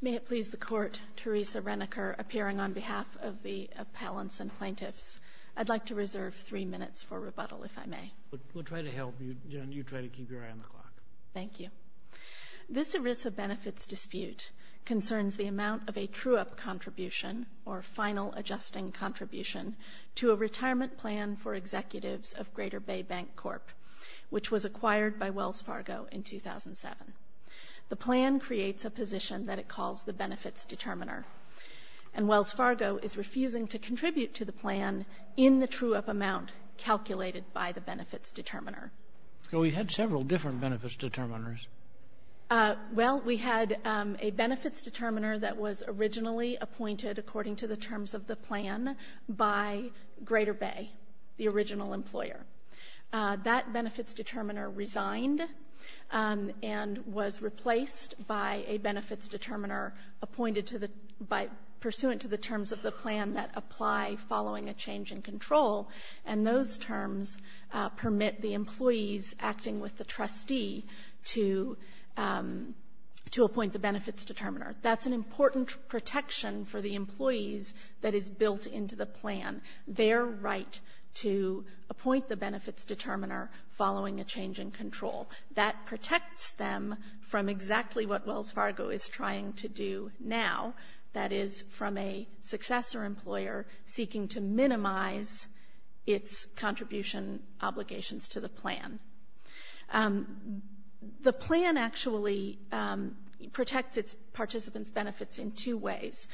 May it please the Court, Teresa Reneker appearing on behalf of the appellants and plaintiffs. I'd like to reserve three minutes for rebuttal, if I may. We'll try to help you, and you try to keep your eye on the clock. Thank you. This ERISA benefits dispute concerns the amount of a true-up contribution, or final adjusting contribution, to a retirement plan for executives of Greater Bay Bancorp, which was acquired by Wells Fargo in 2007. The plan creates a position that it calls the Benefits Determiner. And Wells Fargo is refusing to contribute to the plan in the true-up amount calculated by the Benefits Determiner. So we had several different Benefits Determiners. Well, we had a Benefits Determiner that was originally appointed, according to the terms of the plan, by Greater Bay, the original employer. That Benefits Determiner resigned and was replaced by a Benefits Determiner appointed to the — pursuant to the terms of the plan that apply following a change in control. And those terms permit the employees acting with the trustee to appoint the Benefits Determiner. That's an important protection for the employees that is built into the plan, their right to appoint the Benefits Determiner following a change in control. That protects them from exactly what Wells Fargo is trying to do now, that is, from a successor employer seeking to minimize its contribution obligations to the plan. The plan actually protects its participants' benefits in two ways.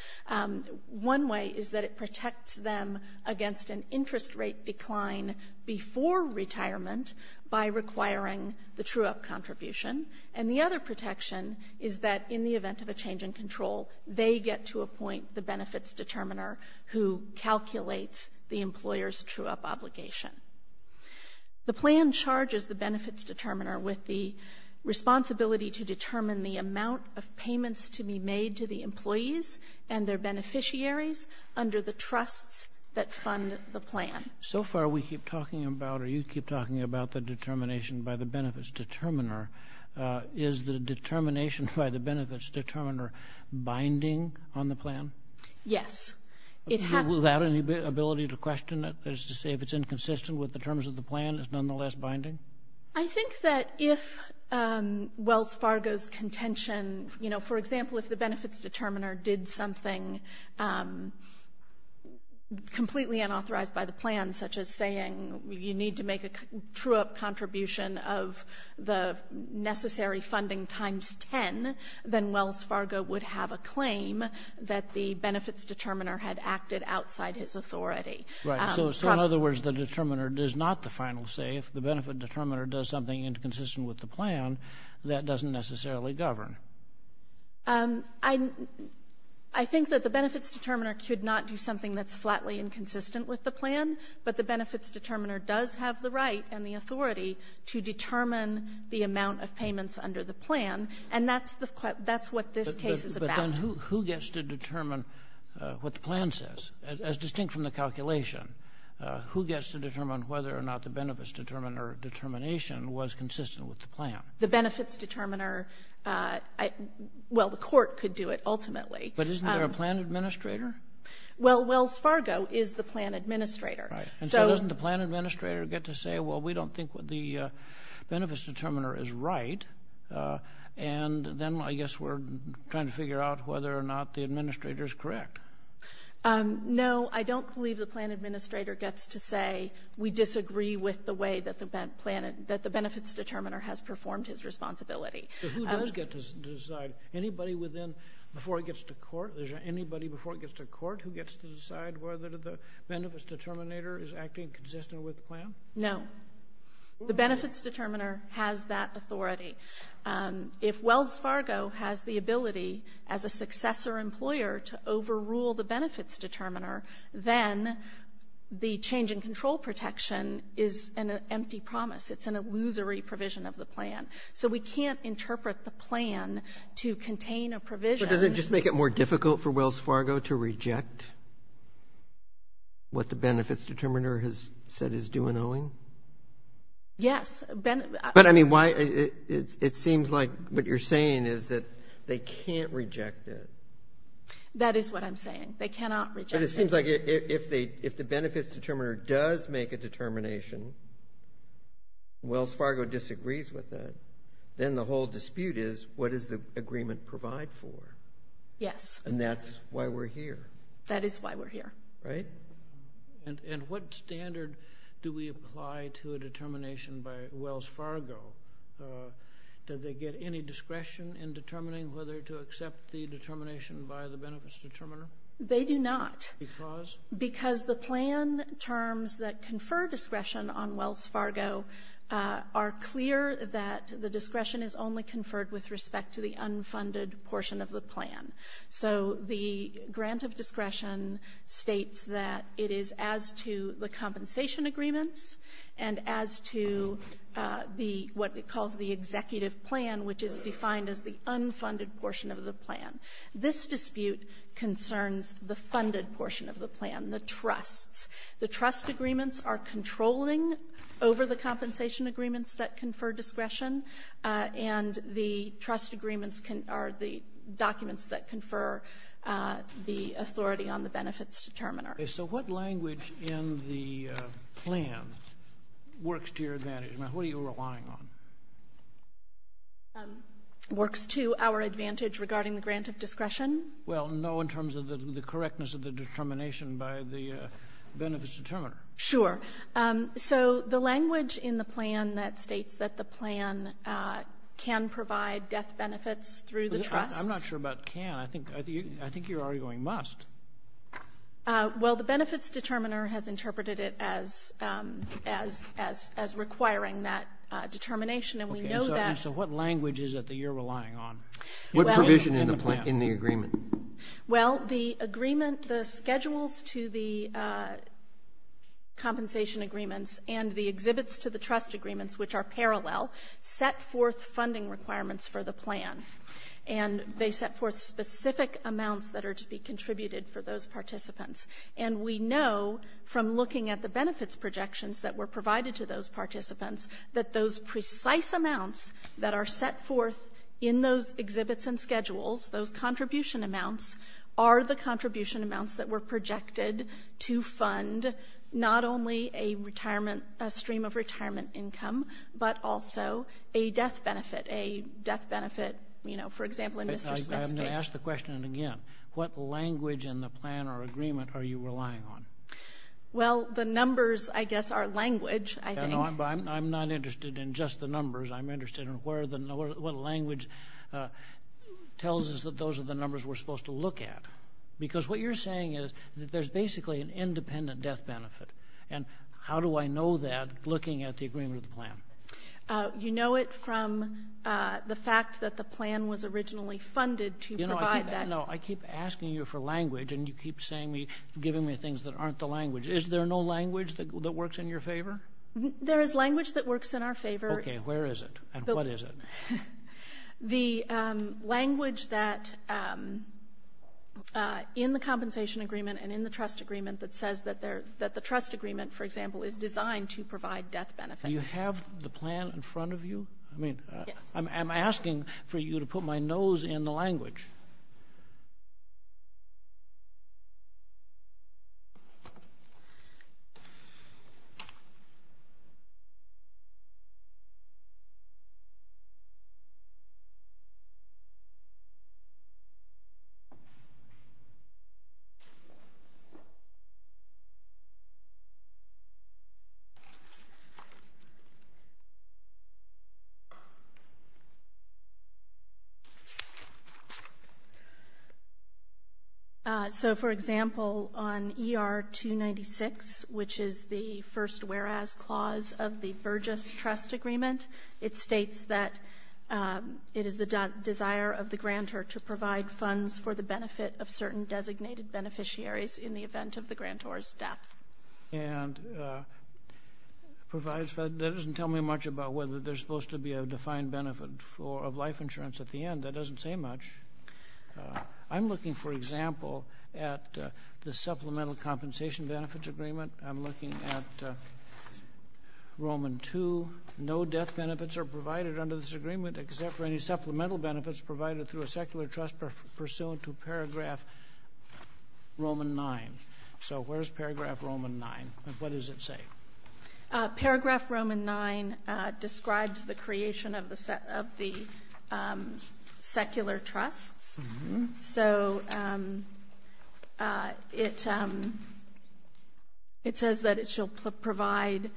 One way is that it protects them against an interest rate decline before retirement by requiring the true-up contribution. And the other protection is that in the event of a change in control, they get to appoint the Benefits Determiner who calculates the employer's true-up obligation. The plan charges the Benefits Determiner with the responsibility to determine the amount of payments to be made to the employees and their beneficiaries under the trusts that fund the plan. So far we keep talking about, or you keep talking about, the determination by the Benefits Determiner. Is the determination by the Benefits Determiner binding on the plan? Yes. Without any ability to question it, that is to say if it's inconsistent with the terms of the plan, it's nonetheless binding? I think that if Wells Fargo's contention, you know, for example, if the Benefits Determiner did something completely unauthorized by the plan, such as saying you need to make a true-up contribution of the necessary funding times 10, then Wells Fargo would have a claim that the Benefits Determiner had acted outside his authority. Right. So in other words, the Determiner does not the final say. If the Benefits Determiner does something inconsistent with the plan, that doesn't necessarily govern. I think that the Benefits Determiner could not do something that's flatly inconsistent with the plan, but the Benefits Determiner does have the right and the authority to determine the amount of payments under the plan, and that's what this case is about. But then who gets to determine what the plan says? As distinct from the calculation, who gets to determine whether or not the Benefits Determiner determination was consistent with the plan? The Benefits Determiner, well, the court could do it ultimately. But isn't there a plan administrator? Well, Wells Fargo is the plan administrator. Right. And so doesn't the plan administrator get to say, well, we don't think the Benefits Determiner is right, and then I guess we're trying to figure out whether or not the administrator is correct? No. I don't believe the plan administrator gets to say, we disagree with the way that the plan, that the Benefits Determiner has performed his responsibility. But who does get to decide? Anybody within, before it gets to court? Is there anybody before it gets to court who gets to decide whether the Benefits Determinator is acting consistent with the plan? No. The Benefits Determiner has that authority. If Wells Fargo has the ability as a successor employer to overrule the Benefits Determiner, then the change in control protection is an empty promise. It's an illusory provision of the plan. So we can't interpret the plan to contain a provision. But does it just make it more difficult for Wells Fargo to reject what the Benefits Determinator does? Yes. But, I mean, it seems like what you're saying is that they can't reject it. That is what I'm saying. They cannot reject it. But it seems like if the Benefits Determinator does make a determination, Wells Fargo disagrees with it, then the whole dispute is, what does the agreement provide for? Yes. And that's why we're here. That is why we're here. Right? And what standard do we apply to a determination by Wells Fargo? Do they get any discretion in determining whether to accept the determination by the Benefits Determinator? They do not. Because? Because the plan terms that confer discretion on Wells Fargo are clear that the discretion is only conferred with respect to the unfunded portion of the plan. So the grant of discretion states that it is as to the compensation agreements and as to the, what it calls the executive plan, which is defined as the unfunded portion of the plan. This dispute concerns the funded portion of the plan, the trusts. The trust agreements are controlling over the compensation agreements that confer discretion, and the trust agreements are the documents that confer the authority on the Benefits Determinator. Okay. So what language in the plan works to your advantage? Now, who are you relying on? Works to our advantage regarding the grant of discretion? Well, no in terms of the correctness of the determination by the Benefits Determinator. Sure. So the language in the plan that states that the plan can provide death benefits through the trust. I'm not sure about can. I think you're already going must. Well, the Benefits Determinator has interpreted it as requiring that determination, and we know that. So what language is it that you're relying on? What provision in the agreement? Well, the agreement, the schedules to the compensation agreements and the exhibits to the trust agreements, which are parallel, set forth funding requirements for the plan, and they set forth specific amounts that are to be contributed for those participants. And we know from looking at the benefits projections that were provided to those participants that those precise amounts that are set forth in those exhibits and schedules, those contribution amounts, are the contribution amounts that were projected to fund not only a stream of retirement income, but also a death benefit, a death benefit, you know, for example, in Mr. Smith's case. I'm going to ask the question again. What language in the plan or agreement are you relying on? Well, the numbers, I guess, are language, I think. I'm not interested in just the numbers. I'm interested in what language tells us that those are the numbers we're supposed to look at. Because what you're saying is that there's basically an independent death benefit, and how do I know that looking at the agreement of the plan? You know it from the fact that the plan was originally funded to provide that. No, I keep asking you for language, and you keep giving me things that aren't the language. Is there no language that works in your favor? There is language that works in our favor. Okay. Where is it, and what is it? The language that, in the compensation agreement and in the trust agreement, that says that the trust agreement, for example, is designed to provide death benefits. Do you have the plan in front of you? Yes. I'm asking for you to put my nose in the language. So, for example, on ER-296, which is the first whereas clause of the Burgess trust agreement, it states that it is the desire of the grantor to provide funds for the benefit of certain designated beneficiaries in the event of the grantor's death. And that doesn't tell me much about whether there's supposed to be a defined benefit of life insurance at the end. That doesn't say much. I'm looking, for example, at the supplemental compensation benefits agreement. I'm looking at Roman 2. No death benefits are provided under this agreement except for any supplemental benefits provided through a secular trust pursuant to paragraph Roman 9. So where's paragraph Roman 9, and what does it say? Paragraph Roman 9 describes the creation of the secular trusts. So it says that it shall provide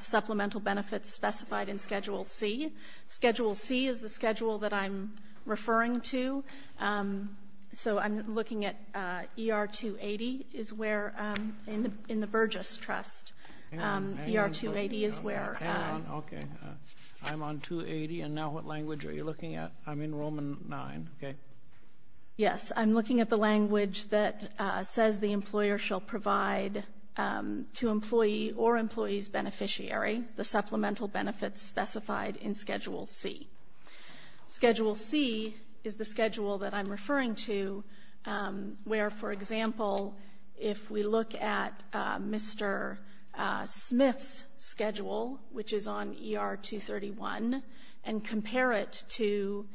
supplemental benefits specified in Schedule C. Schedule C is the schedule that I'm referring to. So I'm looking at ER-280 is where, in the Burgess trust, ER-280 is where. Hang on, okay. I'm on 280, and now what language are you looking at? I'm in Roman 9, okay? Yes, I'm looking at the language that says the employer shall provide to employee or employee's beneficiary the supplemental benefits specified in Schedule C. Schedule C is the schedule that I'm referring to where, for example, if we look at Mr. Smith's schedule, which is on ER-231, and compare it to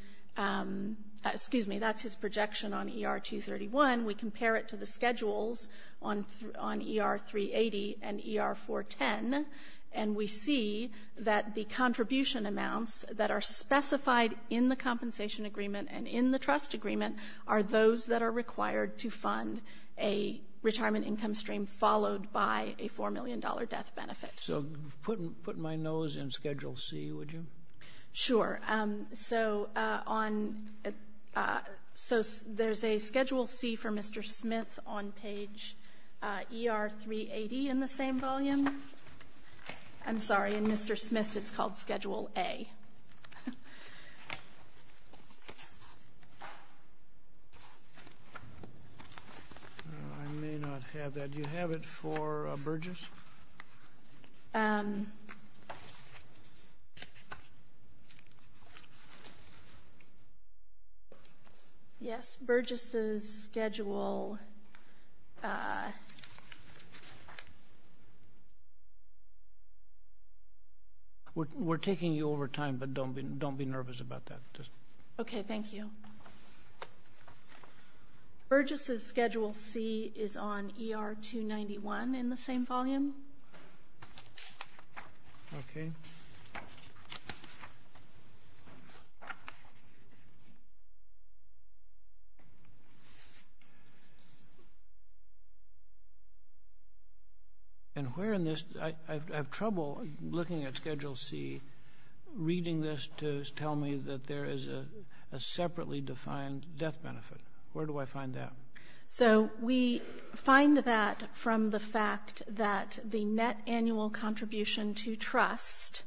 — excuse me, that's his projection on ER-231. We compare it to the schedules on ER-380 and ER-410, and we see that the contribution amounts that are specified in the compensation agreement and in the trust agreement are those that are required to fund a retirement income stream followed by a $4 million death benefit. So put my nose in Schedule C, would you? Sure. So there's a Schedule C for Mr. Smith on page ER-380 in the same volume. I'm sorry, in Mr. Smith's it's called Schedule A. I may not have that. Do you have it for Burgess? Yes, Burgess's schedule. We're taking you over time, but don't be nervous about that. Okay, thank you. Burgess's Schedule C is on ER-291 in the same volume. Okay. And where in this — I have trouble looking at Schedule C, reading this to tell me that there is a separately defined death benefit. Where do I find that? So we find that from the fact that the net annual contribution to trust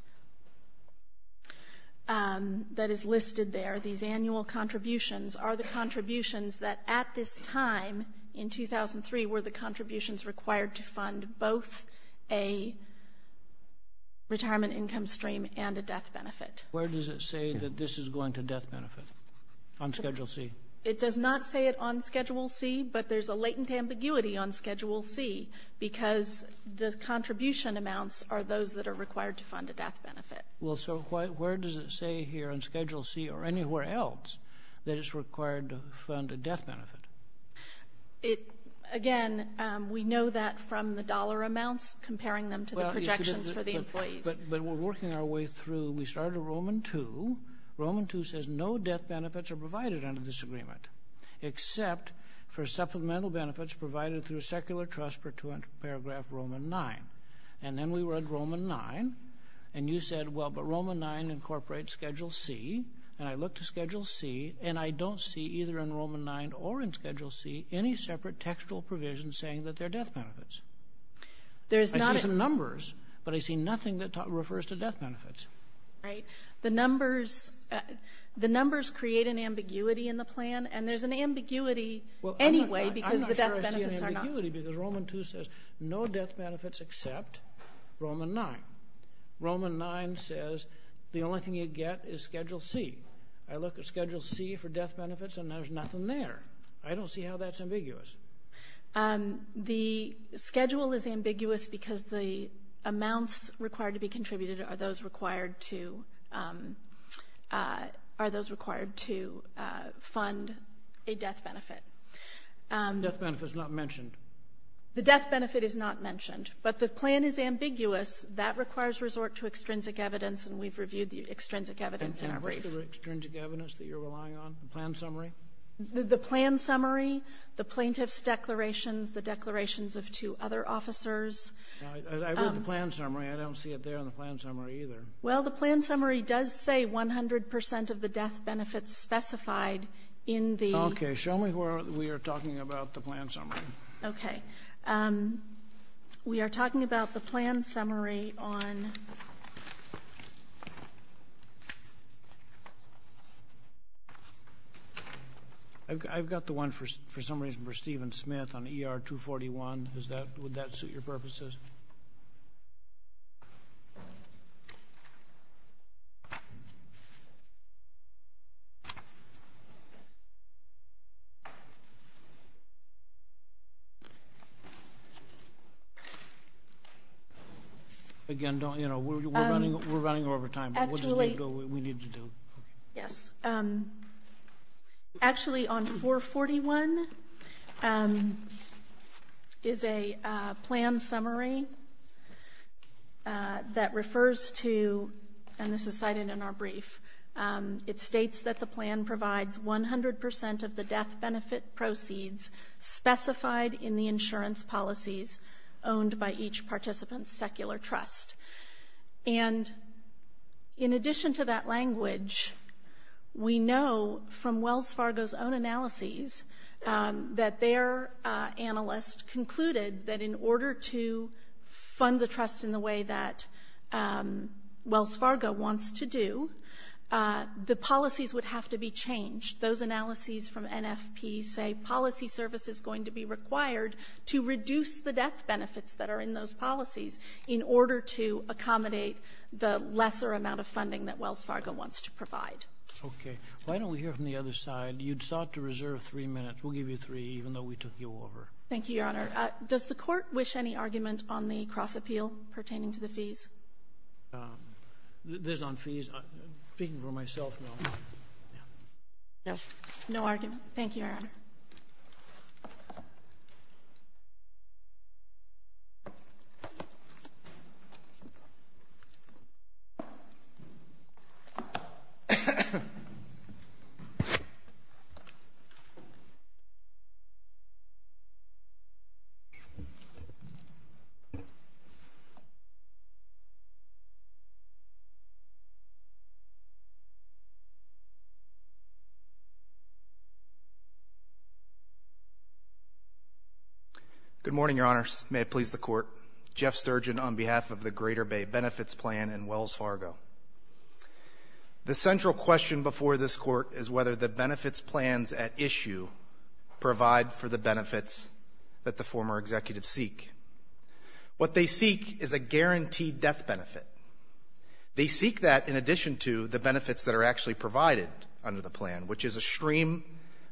that is listed there, these annual contributions, are the contributions that at this time in 2003 were the contributions required to fund both a retirement income stream and a death benefit. Where does it say that this is going to death benefit on Schedule C? It does not say it on Schedule C, but there's a latent ambiguity on Schedule C because the contribution amounts are those that are required to fund a death benefit. Well, so where does it say here on Schedule C or anywhere else that it's required to fund a death benefit? Again, we know that from the dollar amounts, comparing them to the projections for the employees. But we're working our way through. We started at Roman 2. Roman 2 says no death benefits are provided under this agreement, except for supplemental benefits provided through secular trust per 200 paragraph Roman 9. And then we read Roman 9, and you said, well, but Roman 9 incorporates Schedule C, and I look to Schedule C, and I don't see either in Roman 9 or in Schedule C any separate textual provision saying that they're death benefits. I see some numbers, but I see nothing that refers to death benefits. Right. The numbers create an ambiguity in the plan, and there's an ambiguity anyway because the death benefits are not. Well, I'm not sure I see an ambiguity because Roman 2 says no death benefits except Roman 9. Roman 9 says the only thing you get is Schedule C. I look at Schedule C for death benefits, and there's nothing there. I don't see how that's ambiguous. The schedule is ambiguous because the amounts required to be contributed are those required to fund a death benefit. The death benefit is not mentioned. The death benefit is not mentioned. But the plan is ambiguous. That requires resort to extrinsic evidence, and we've reviewed the extrinsic evidence in our brief. And what's the extrinsic evidence that you're relying on? The plan summary? The plan summary, the plaintiff's declarations, the declarations of two other officers. I read the plan summary. I don't see it there in the plan summary either. Well, the plan summary does say 100 percent of the death benefits specified in the... Okay. Show me where we are talking about the plan summary. Okay. We are talking about the plan summary on... I've got the one for some reason for Stephen Smith on ER 241. Would that suit your purposes? Again, you know, we're running over time. Actually... What do we need to do? Yes. Actually, on 441 is a plan summary that refers to, and this is cited in our brief, it states that the plan provides 100 percent of the death benefit proceeds specified in the insurance policies owned by each participant's secular trust. And in addition to that language, we know from Wells Fargo's own analysis that their analyst concluded that in order to fund the trust in the way that Wells Fargo wants to do, the policies would have to be changed. Those analyses from NFP say policy service is going to be required to reduce the death benefits that are in those policies in order to accommodate the lesser amount of funding that Wells Fargo wants to provide. Okay. Why don't we hear from the other side? You sought to reserve three minutes. We'll give you three, even though we took you over. Thank you, Your Honor. Does the Court wish any argument on the cross-appeal pertaining to the fees? There's no fees. Speaking for myself, no. No. Thank you, Your Honor. Good morning, Your Honors. May it please the Court. Jeff Sturgeon on behalf of the Greater Bay Benefits Plan and Wells Fargo. The central question before this Court is whether the benefits plans at issue provide for the benefits that the former executives seek. What they seek is a guaranteed death benefit. They seek that in addition to the benefits that are actually provided under the plan, which is a stream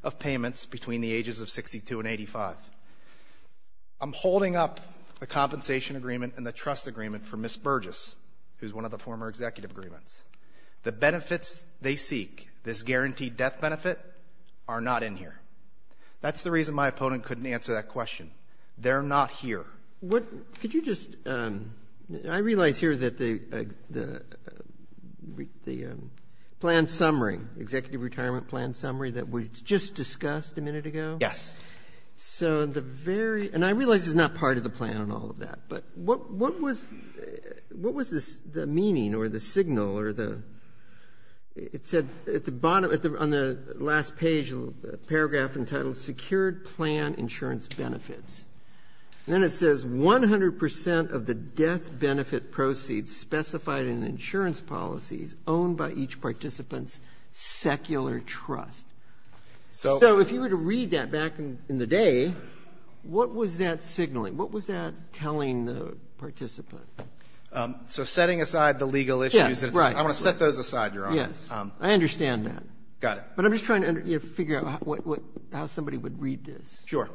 of payments between the ages of 62 and 85. I'm holding up the compensation agreement and the trust agreement for Ms. Burgess, who's one of the former executive agreements. The benefits they seek, this guaranteed death benefit, are not in here. That's the reason my opponent couldn't answer that question. They're not here. Could you just — I realize here that the plan summary, executive retirement plan summary that was just discussed a minute ago? Yes. So the very — and I realize it's not part of the plan and all of that, but what was the meaning or the signal or the — it said at the bottom, on the last page, paragraph entitled Secured Plan Insurance Benefits. And then it says 100 percent of the death benefit proceeds specified in the insurance policies owned by each participant's secular trust. So if you were to read that back in the day, what was that signaling? What was that telling the participant? So setting aside the legal issues. Yes, right. I want to set those aside, Your Honor. I understand that. Got it. But I'm just trying to figure out how somebody would read this. Sure.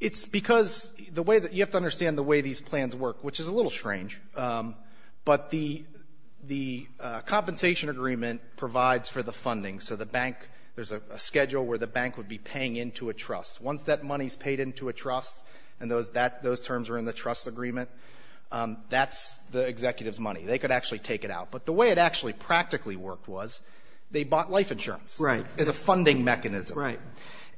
It's because the way that — you have to understand the way these plans work, which is a little strange. But the — the compensation agreement provides for the funding. So the bank — there's a schedule where the bank would be paying into a trust. Once that money is paid into a trust and those — that — those terms are in the trust agreement, that's the executive's money. They could actually take it out. But the way it actually practically worked was they bought life insurance. Right. As a funding mechanism. Right.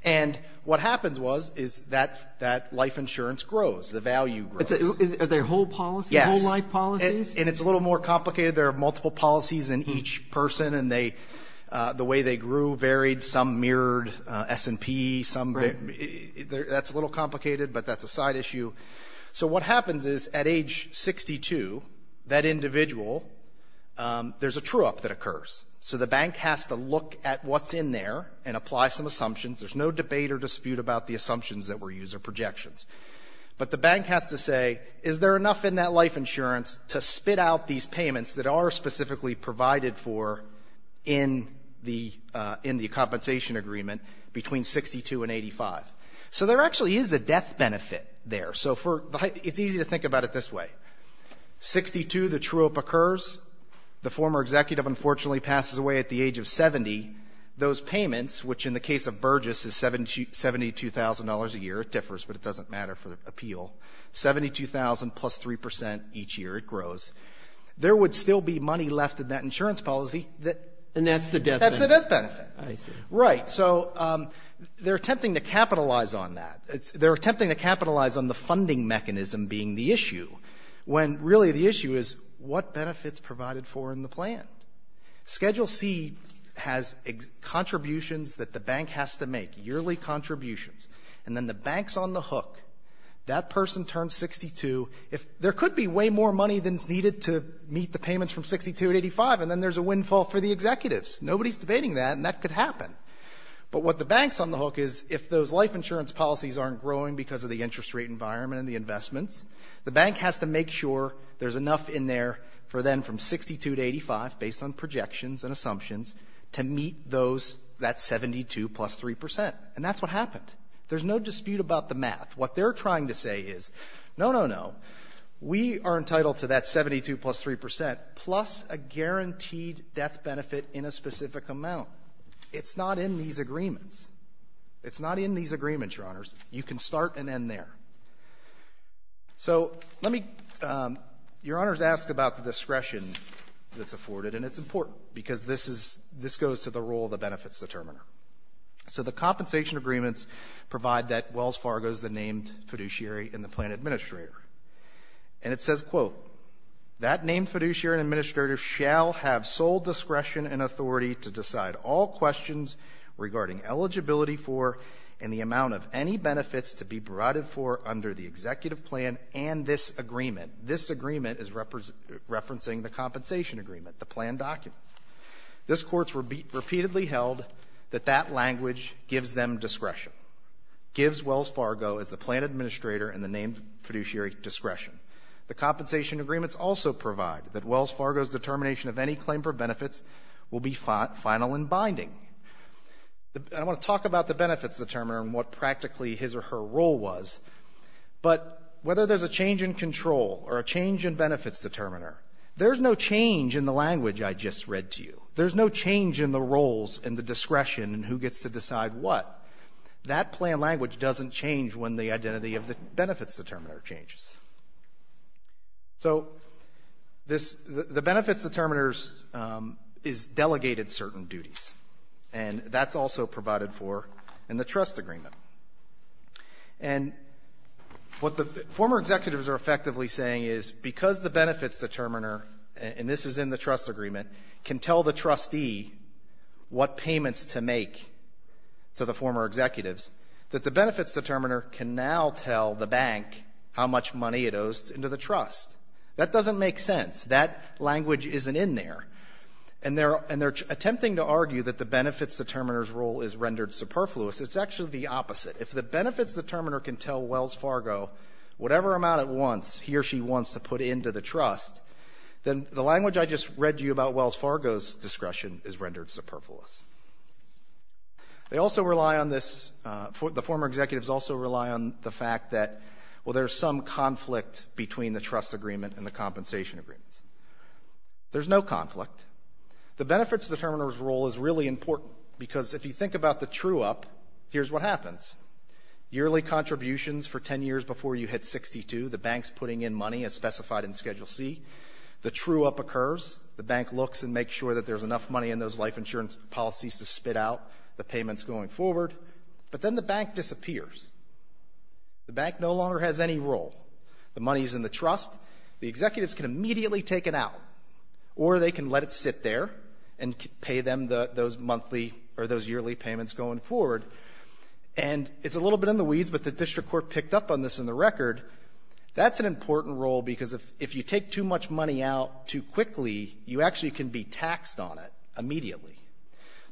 And what happens was, is that — that life insurance grows. The value grows. Is there whole policy? Yes. Whole life policies? And it's a little more complicated. There are multiple policies in each person, and they — the way they grew varied. Some mirrored S&P, some — that's a little complicated, but that's a side issue. So what happens is, at age 62, that individual — there's a true-up that occurs. So the bank has to look at what's in there and apply some assumptions. There's no debate or dispute about the assumptions that were used or projections. But the bank has to say, is there enough in that life insurance to spit out these payments that are specifically provided for in the — in the compensation agreement between 62 and 85? So there actually is a death benefit there. So for — it's easy to think about it this way. Sixty-two, the true-up occurs. The former executive, unfortunately, passes away at the age of 70. Those payments, which in the case of Burgess is $72,000 a year. It differs, but it doesn't matter for the appeal. Seventy-two thousand plus 3 percent each year, it grows. There would still be money left in that insurance policy that — And that's the death benefit. That's the death benefit. I see. Right. So they're attempting to capitalize on that. They're attempting to capitalize on the funding mechanism being the issue, when really the issue is what benefits provided for in the plan? Schedule C has contributions that the bank has to make, yearly contributions. And then the bank's on the hook. That person turns 62. If — there could be way more money than is needed to meet the payments from 62 to 85, and then there's a windfall for the executives. Nobody's debating that, and that could happen. But what the bank's on the hook is, if those life insurance policies aren't growing because of the interest rate environment and the investments, the bank has to make sure there's enough in there for them from 62 to 85, based on projections and assumptions, to meet those — that 72 plus 3 percent. And that's what happened. There's no dispute about the math. What they're trying to say is, no, no, no, we are entitled to that 72 plus 3 percent plus a guaranteed death benefit in a specific amount. It's not in these agreements. It's not in these agreements, Your Honors. You can start and end there. So let me — Your Honors asked about the discretion that's afforded, and it's important, because this is — this goes to the role of the benefits determiner. So the compensation agreements provide that Wells Fargo is the named fiduciary and the plan administrator. And it says, quote, that named fiduciary and administrator shall have sole discretion and authority to decide all questions regarding eligibility for and the amount of any benefits to be provided for under the executive plan and this agreement. This agreement is referencing the compensation agreement, the plan document. This Court's repeatedly held that that language gives them discretion, gives Wells Fargo as the plan administrator and the named fiduciary, and that Wells Fargo's determination of any claim for benefits will be final and binding. I want to talk about the benefits determiner and what practically his or her role was, but whether there's a change in control or a change in benefits determiner, there's no change in the language I just read to you. There's no change in the roles and the discretion and who gets to decide what. That plan language doesn't change when the identity of the benefits determiner changes. So this the benefits determiners is delegated certain duties, and that's also provided for in the trust agreement. And what the former executives are effectively saying is because the benefits determiner, and this is in the trust agreement, can tell the trustee what the benefits determiner can now tell the bank how much money it owes into the trust. That doesn't make sense. That language isn't in there. And they're attempting to argue that the benefits determiner's role is rendered superfluous. It's actually the opposite. If the benefits determiner can tell Wells Fargo whatever amount it wants, he or she wants to put into the trust, then the language I just read to you about Wells Fargo's discretion is rendered superfluous. The former executives also rely on the fact that, well, there's some conflict between the trust agreement and the compensation agreements. There's no conflict. The benefits determiner's role is really important, because if you think about the true-up, here's what happens. Yearly contributions for 10 years before you hit 62, the bank's putting in money as specified in Schedule C. The true-up occurs. The bank looks and makes sure that there's enough money in those life insurance policies to spit out the payments going forward. But then the bank disappears. The bank no longer has any role. The money's in the trust. The executives can immediately take it out, or they can let it sit there and pay them those monthly or those yearly payments going forward. And it's a little bit in the weeds, but the district court picked up on this in the record. That's an important role, because if you take too much money out too quickly, you actually can be taxed on it immediately.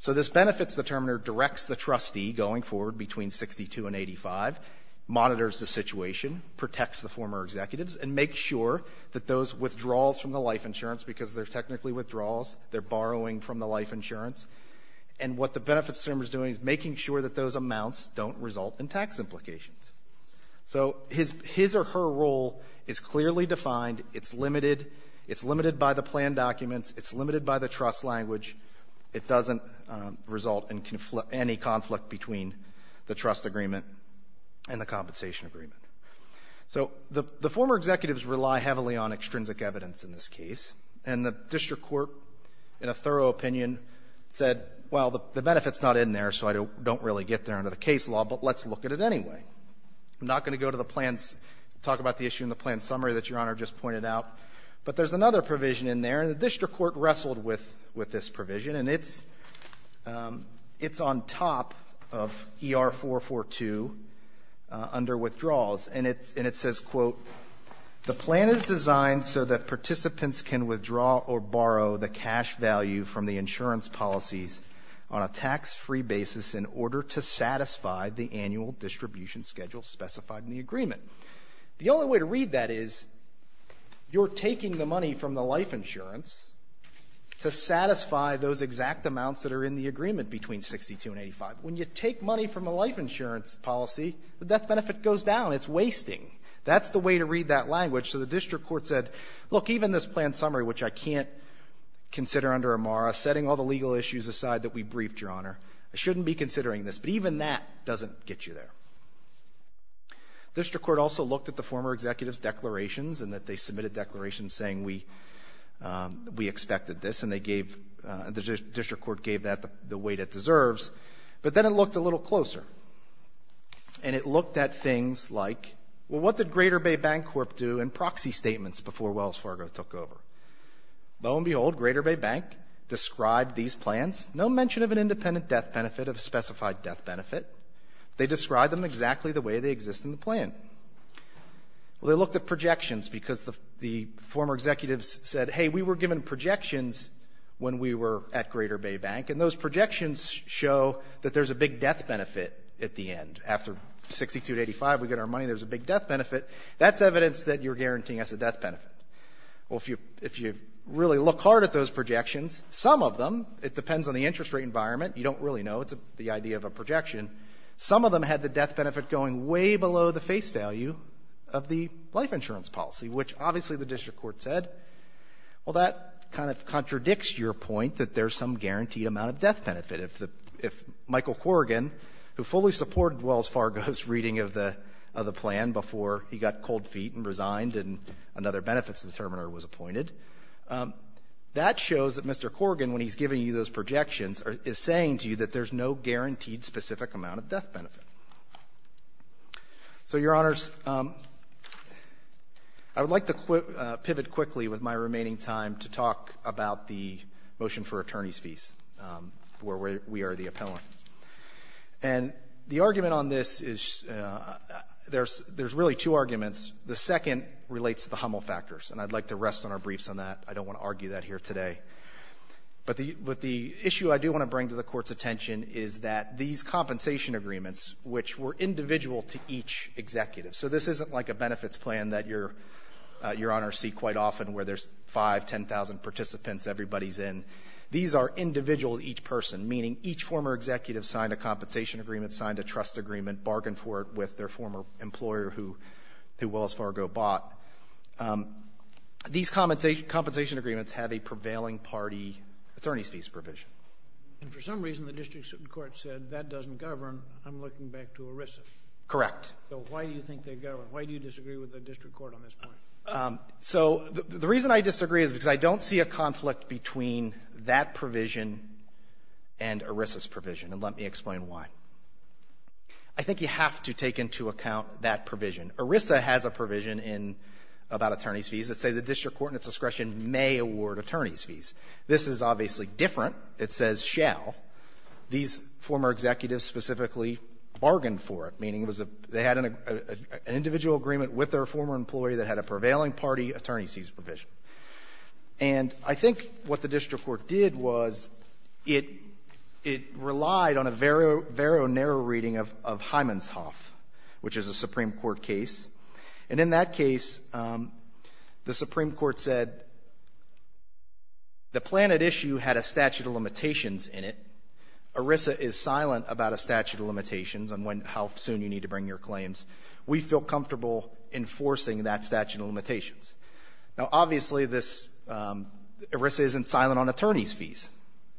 So this benefits determiner directs the trustee going forward between 62 and 85, monitors the situation, protects the former executives, and makes sure that those withdrawals from the life insurance, because they're technically withdrawals, they're going to be taxed, that those amounts don't result in tax implications. So his or her role is clearly defined. It's limited. It's limited by the plan documents. It's limited by the trust language. It doesn't result in any conflict between the trust agreement and the compensation agreement. So the former executives rely heavily on extrinsic evidence in this case, and the district court in a thorough opinion said, well, the benefit's not in there, so I don't really get there under the case law, but let's look at it anyway. I'm not going to go to the plans, talk about the issue in the plan summary that Your Honor just pointed out, but there's another provision in there, and the district court wrestled with this provision, and it's on top of ER-442 under withdrawals. And it says, quote, The only way to read that is you're taking the money from the life insurance to satisfy those exact amounts that are in the agreement between 62 and 85. When you take money from a life insurance policy, the death benefit goes down. It's wasting. That's the way to read that language. So the district court said, look, even this plan summary, which I can't consider under AMARA, setting all the legal issues aside that we briefed, Your Honor, I shouldn't be considering this, but even that doesn't get you there. The district court also looked at the former executives' declarations and that they submitted declarations saying we expected this, and they gave, the district court gave that the weight it deserves. But then it looked a little closer, and it looked at things like, well, what did Greater Bay Bank Corp. do in proxy statements before Wells Fargo took over? Lo and behold, Greater Bay Bank described these plans, no mention of an independent death benefit of a specified death benefit. They described them exactly the way they exist in the plan. Well, they looked at projections because the former executives said, hey, we were given projections when we were at Greater Bay Bank, and those projections show that there's a big death benefit at the end. After 62 to 85, we get our money, there's a big death benefit. That's evidence that you're guaranteeing us a death benefit. Well, if you really look hard at those projections, some of them, it depends on the interest rate environment, you don't really know, it's the idea of a proxy, which obviously the district court said, well, that kind of contradicts your point that there's some guaranteed amount of death benefit. If Michael Corrigan, who fully supported Wells Fargo's reading of the plan before he got cold feet and resigned and another benefits determiner was appointed, that shows that Mr. Corrigan, when he's giving you those projections, is saying to you that there's no guaranteed specific amount of death benefit. So, Your Honors, I would like to pivot quickly with my remaining time to talk about the motion for attorneys' fees, where we are the appellant. And the argument on this is there's really two arguments. The second relates to the Hummel factors, and I'd like to rest on our briefs on that. I don't want to argue that here today. But the issue I do want to bring to the Court's attention is that these compensation agreements, which were individual to each executive, so this isn't like a benefits plan that Your Honors see quite often where there's 5,000, 10,000 participants, everybody's in. These are individual to each person, meaning each former executive signed a compensation agreement, signed a trust agreement, bargained for it with their former employer who these compensation agreements have a prevailing party attorneys' fees provision. And for some reason, the district court said that doesn't govern. I'm looking back to ERISA. Correct. So why do you think they govern? Why do you disagree with the district court on this point? So the reason I disagree is because I don't see a conflict between that provision and ERISA's provision, and let me explain why. I think you have to take into account that provision. ERISA has a provision in — about attorneys' fees that say the district court in its discretion may award attorneys' fees. This is obviously different. It says shall. These former executives specifically bargained for it, meaning it was a — they had an individual agreement with their former employee that had a prevailing party attorneys' fees provision. And I think what the district court did was it — it relied on a very, very narrow reading of Hyman's Hoff, which is a Supreme Court case. And in that case, the Supreme Court said the plan at issue had a statute of limitations in it. ERISA is silent about a statute of limitations on when — how soon you need to bring your claims. We feel comfortable enforcing that statute of limitations. Now, obviously, this — ERISA isn't silent on attorneys' fees.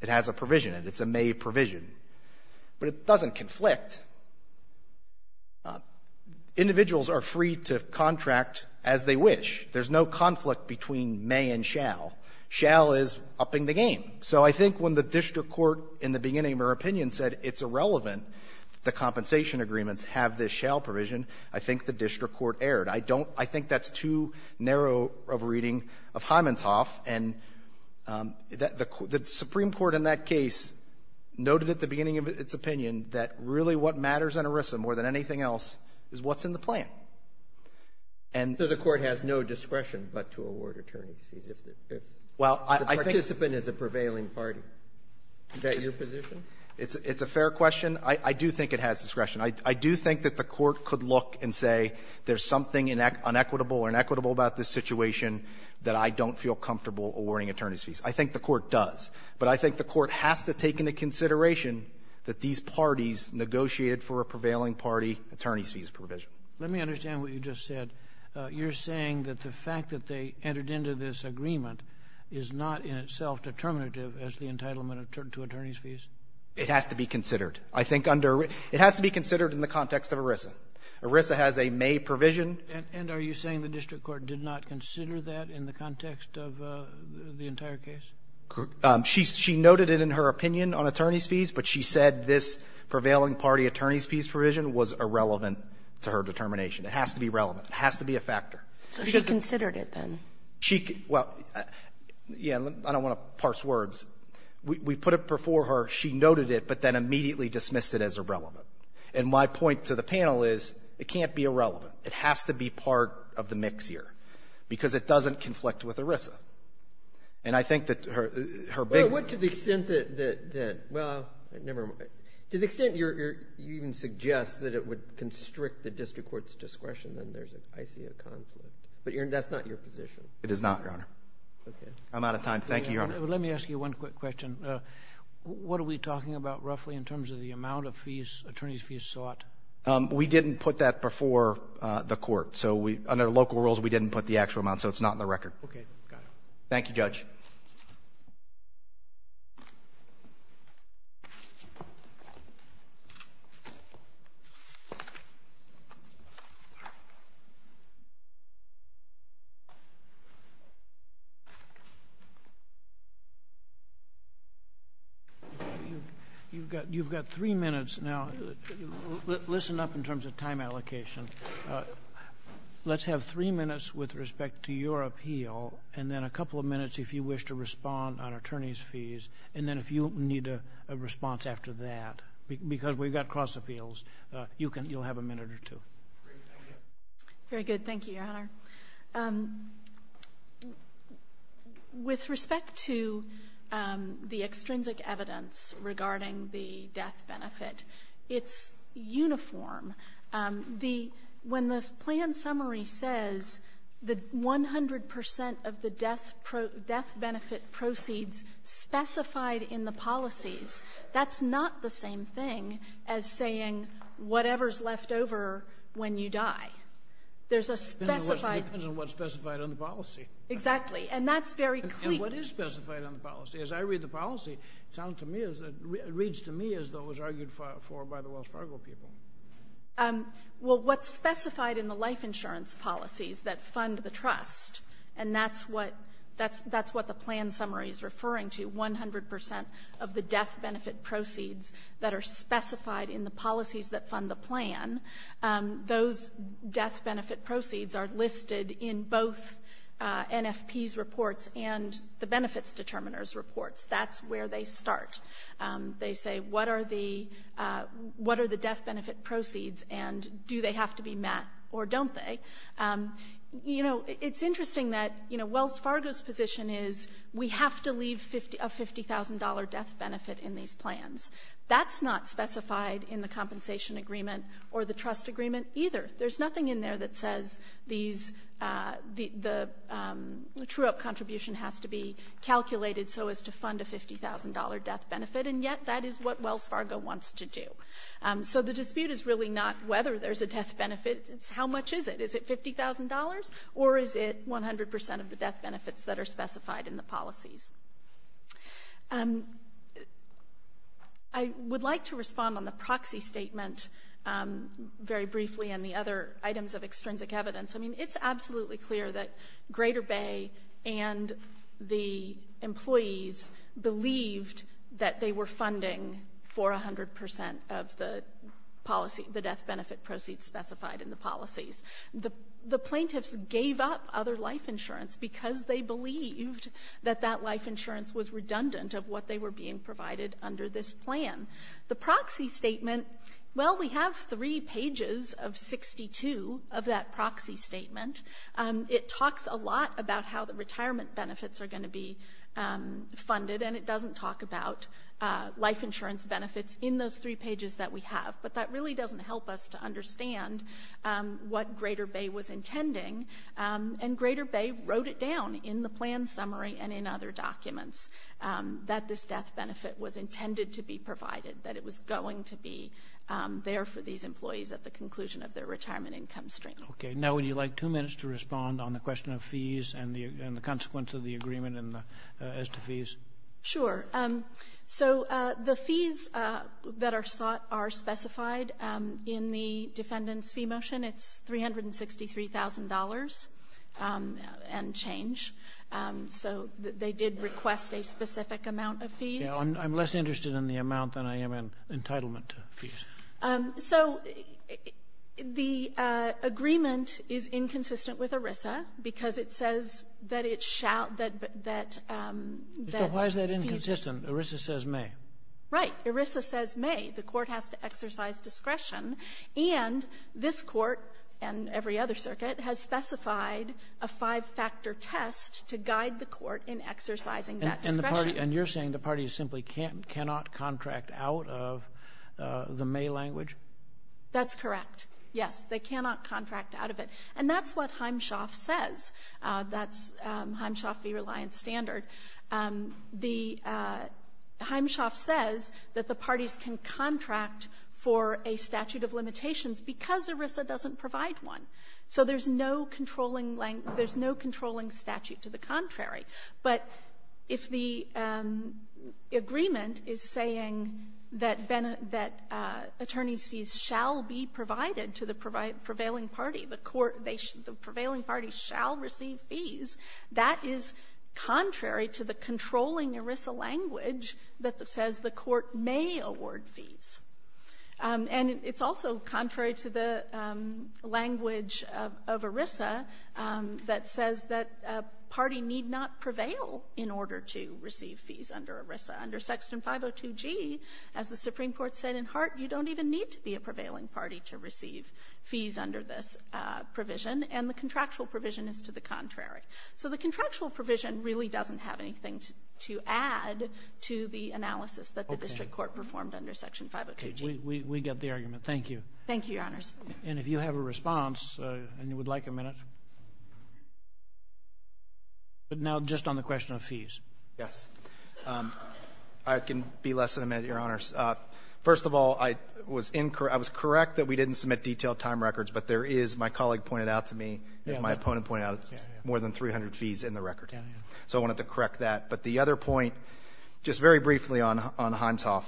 It has a provision in it. It's a may provision. But it doesn't conflict. Individuals are free to contract as they wish. There's no conflict between may and shall. Shall is upping the game. So I think when the district court in the beginning of their opinion said it's irrelevant that the compensation agreements have this shall provision, I think the district court erred. I don't — I think that's too narrow of a reading of Hyman's Hoff. And the Supreme Court in that case noted at the beginning of its opinion that really what matters in ERISA more than anything else is what's in the plan. And the court has no discretion but to award attorneys' fees if the participant is a prevailing party. Is that your position? It's a fair question. I do think it has discretion. I do think that the court could look and say there's something inequitable or inequitable about this situation that I don't feel comfortable awarding attorneys' fees. I think the court does. But I think the court has to take into consideration that these parties negotiated for a prevailing party attorneys' fees provision. Let me understand what you just said. You're saying that the fact that they entered into this agreement is not in itself determinative as the entitlement to attorneys' fees? It has to be considered. I think under — it has to be considered in the context of ERISA. ERISA has a may provision. And are you saying the district court did not consider that in the context of the entire case? She noted it in her opinion on attorneys' fees, but she said this prevailing party attorneys' fees provision was irrelevant to her determination. It has to be relevant. It has to be a factor. So she considered it, then? Well, yeah. I don't want to parse words. We put it before her. She noted it, but then immediately dismissed it as irrelevant. And my point to the panel is it can't be irrelevant. It has to be part of the mix here, because it doesn't conflict with ERISA. And I think that her big one — Well, what to the extent that — well, never mind. To the extent you're — you even suggest that it would constrict the district court's discretion, then there's, I see, a conflict. But that's not your position. It is not, Your Honor. Okay. I'm out of time. Thank you, Your Honor. Let me ask you one quick question. What are we talking about, roughly, in terms of the amount of fees attorneys' fees sought? We didn't put that before the court. So we — under local rules, we didn't put the actual amount. So it's not in the record. Okay. Got it. Thank you, Judge. You've got — you've got three minutes now. Listen up in terms of time allocation. Let's have three minutes with respect to your appeal, and then a couple of minutes if you wish to respond on attorneys' fees. And then if you need a response after that, because we've got cross-appeals, you can — you'll have a minute or two. Great. Thank you. Very good. Thank you, Your Honor. With respect to the extrinsic evidence regarding the death benefit, it's uniform. The — when the plan summary says that 100 percent of the death benefit proceeds specified in the policies, that's not the same thing as saying whatever's left over when you die. There's a specified — It depends on what's specified on the policy. Exactly. And that's very clear. And what is specified on the policy? As I read the policy, it sounds to me as — it reads to me as though it was argued for by the Wells Fargo people. Well, what's specified in the life insurance policies that fund the trust, and that's what — that's what the plan summary is referring to, 100 percent of the death benefit proceeds that are specified in the policies that fund the plan, those death benefit proceeds are listed in both NFP's reports and the Benefits Determiners' reports. That's where they start. They say, what are the — what are the death benefit proceeds, and do they have to be met or don't they? You know, it's interesting that, you know, Wells Fargo's position is we have to leave a 50 — a $50,000 death benefit in these plans. That's not specified in the compensation agreement or the trust agreement either. There's nothing in there that says these — the true-up contribution has to be calculated so as to fund a $50,000 death benefit, and yet that is what Wells Fargo wants to do. So the dispute is really not whether there's a death benefit. It's how much is it. Is it $50,000, or is it 100 percent of the death benefits that are specified in the policies? I would like to respond on the proxy statement very briefly and the other items of extrinsic evidence. I mean, it's absolutely clear that Greater Bay and the employees believed that they were funding for 100 percent of the policy — the death benefit proceeds specified in the policies. The plaintiffs gave up other life insurance because they believed that that life insurance was redundant of what they were being provided under this plan. The proxy statement, well, we have three pages of 62 of that proxy statement. It talks a lot about how the retirement benefits are going to be funded, and it doesn't talk about life insurance benefits in those three pages that we have, but that really doesn't help us to understand what Greater Bay was intending, and Greater Bay wrote it down in the plan summary and in other documents that this death benefit was intended to be provided, that it was going to be there for these employees at the conclusion of their retirement income stream. Okay. Now, would you like two minutes to respond on the question of fees and the consequence of the agreement as to fees? Sure. So the fees that are sought are specified in the defendant's fee motion. It's $363,000 and change. So they did request a specific amount of fees. Yeah. I'm less interested in the amount than I am in entitlement fees. So the agreement is inconsistent with ERISA because it says that it shall — that — So why is that inconsistent? ERISA says may. Right. ERISA says may. The Court has to exercise discretion, and this Court and every other circuit has specified a five-factor test to guide the Court in exercising that discretion. And the party — and you're saying the party simply cannot contract out of the may language? That's correct, yes. They cannot contract out of it. And that's what Heimschaft says. That's Heimschaft v. Reliance Standard. The — Heimschaft says that the parties can contract for a statute of limitations because ERISA doesn't provide one. So there's no controlling — there's no controlling statute to the contrary. But if the agreement is saying that attorneys' fees shall be provided to the prevailing party, the Court — the prevailing party shall receive fees, that is contrary to the controlling ERISA language that says the Court may award fees. And it's also contrary to the language of ERISA that says that a party need not prevail in order to receive fees under ERISA. Under Section 502G, as the Supreme Court says, there doesn't need to be a prevailing party to receive fees under this provision, and the contractual provision is to the contrary. So the contractual provision really doesn't have anything to add to the analysis that the district court performed under Section 502G. Okay. We get the argument. Thank you. Thank you, Your Honors. And if you have a response and you would like a minute, but now just on the question of fees. Yes. I can be less than a minute, Your Honors. First of all, I was incorrect — I was correct that we didn't submit detailed time records, but there is, my colleague pointed out to me, as my opponent pointed out, there's more than 300 fees in the record. So I wanted to correct that. But the other point, just very briefly on — on Himeshoff,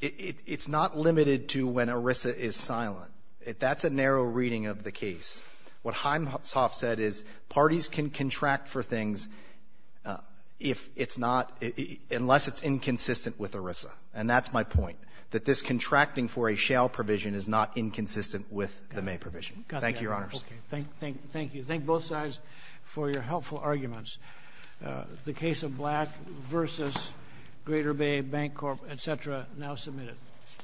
it's not limited to when ERISA is silent. That's a narrow reading of the case. What Himeshoff said is parties can contract for things if it's not — unless it's inconsistent with ERISA. And that's my point, that this contracting for a shale provision is not inconsistent with the May provision. Thank you, Your Honors. Okay. Thank you. Thank you. Thank both sides for your helpful arguments. The case of Black v. Greater Bay Bank Corp., et cetera, now submitted.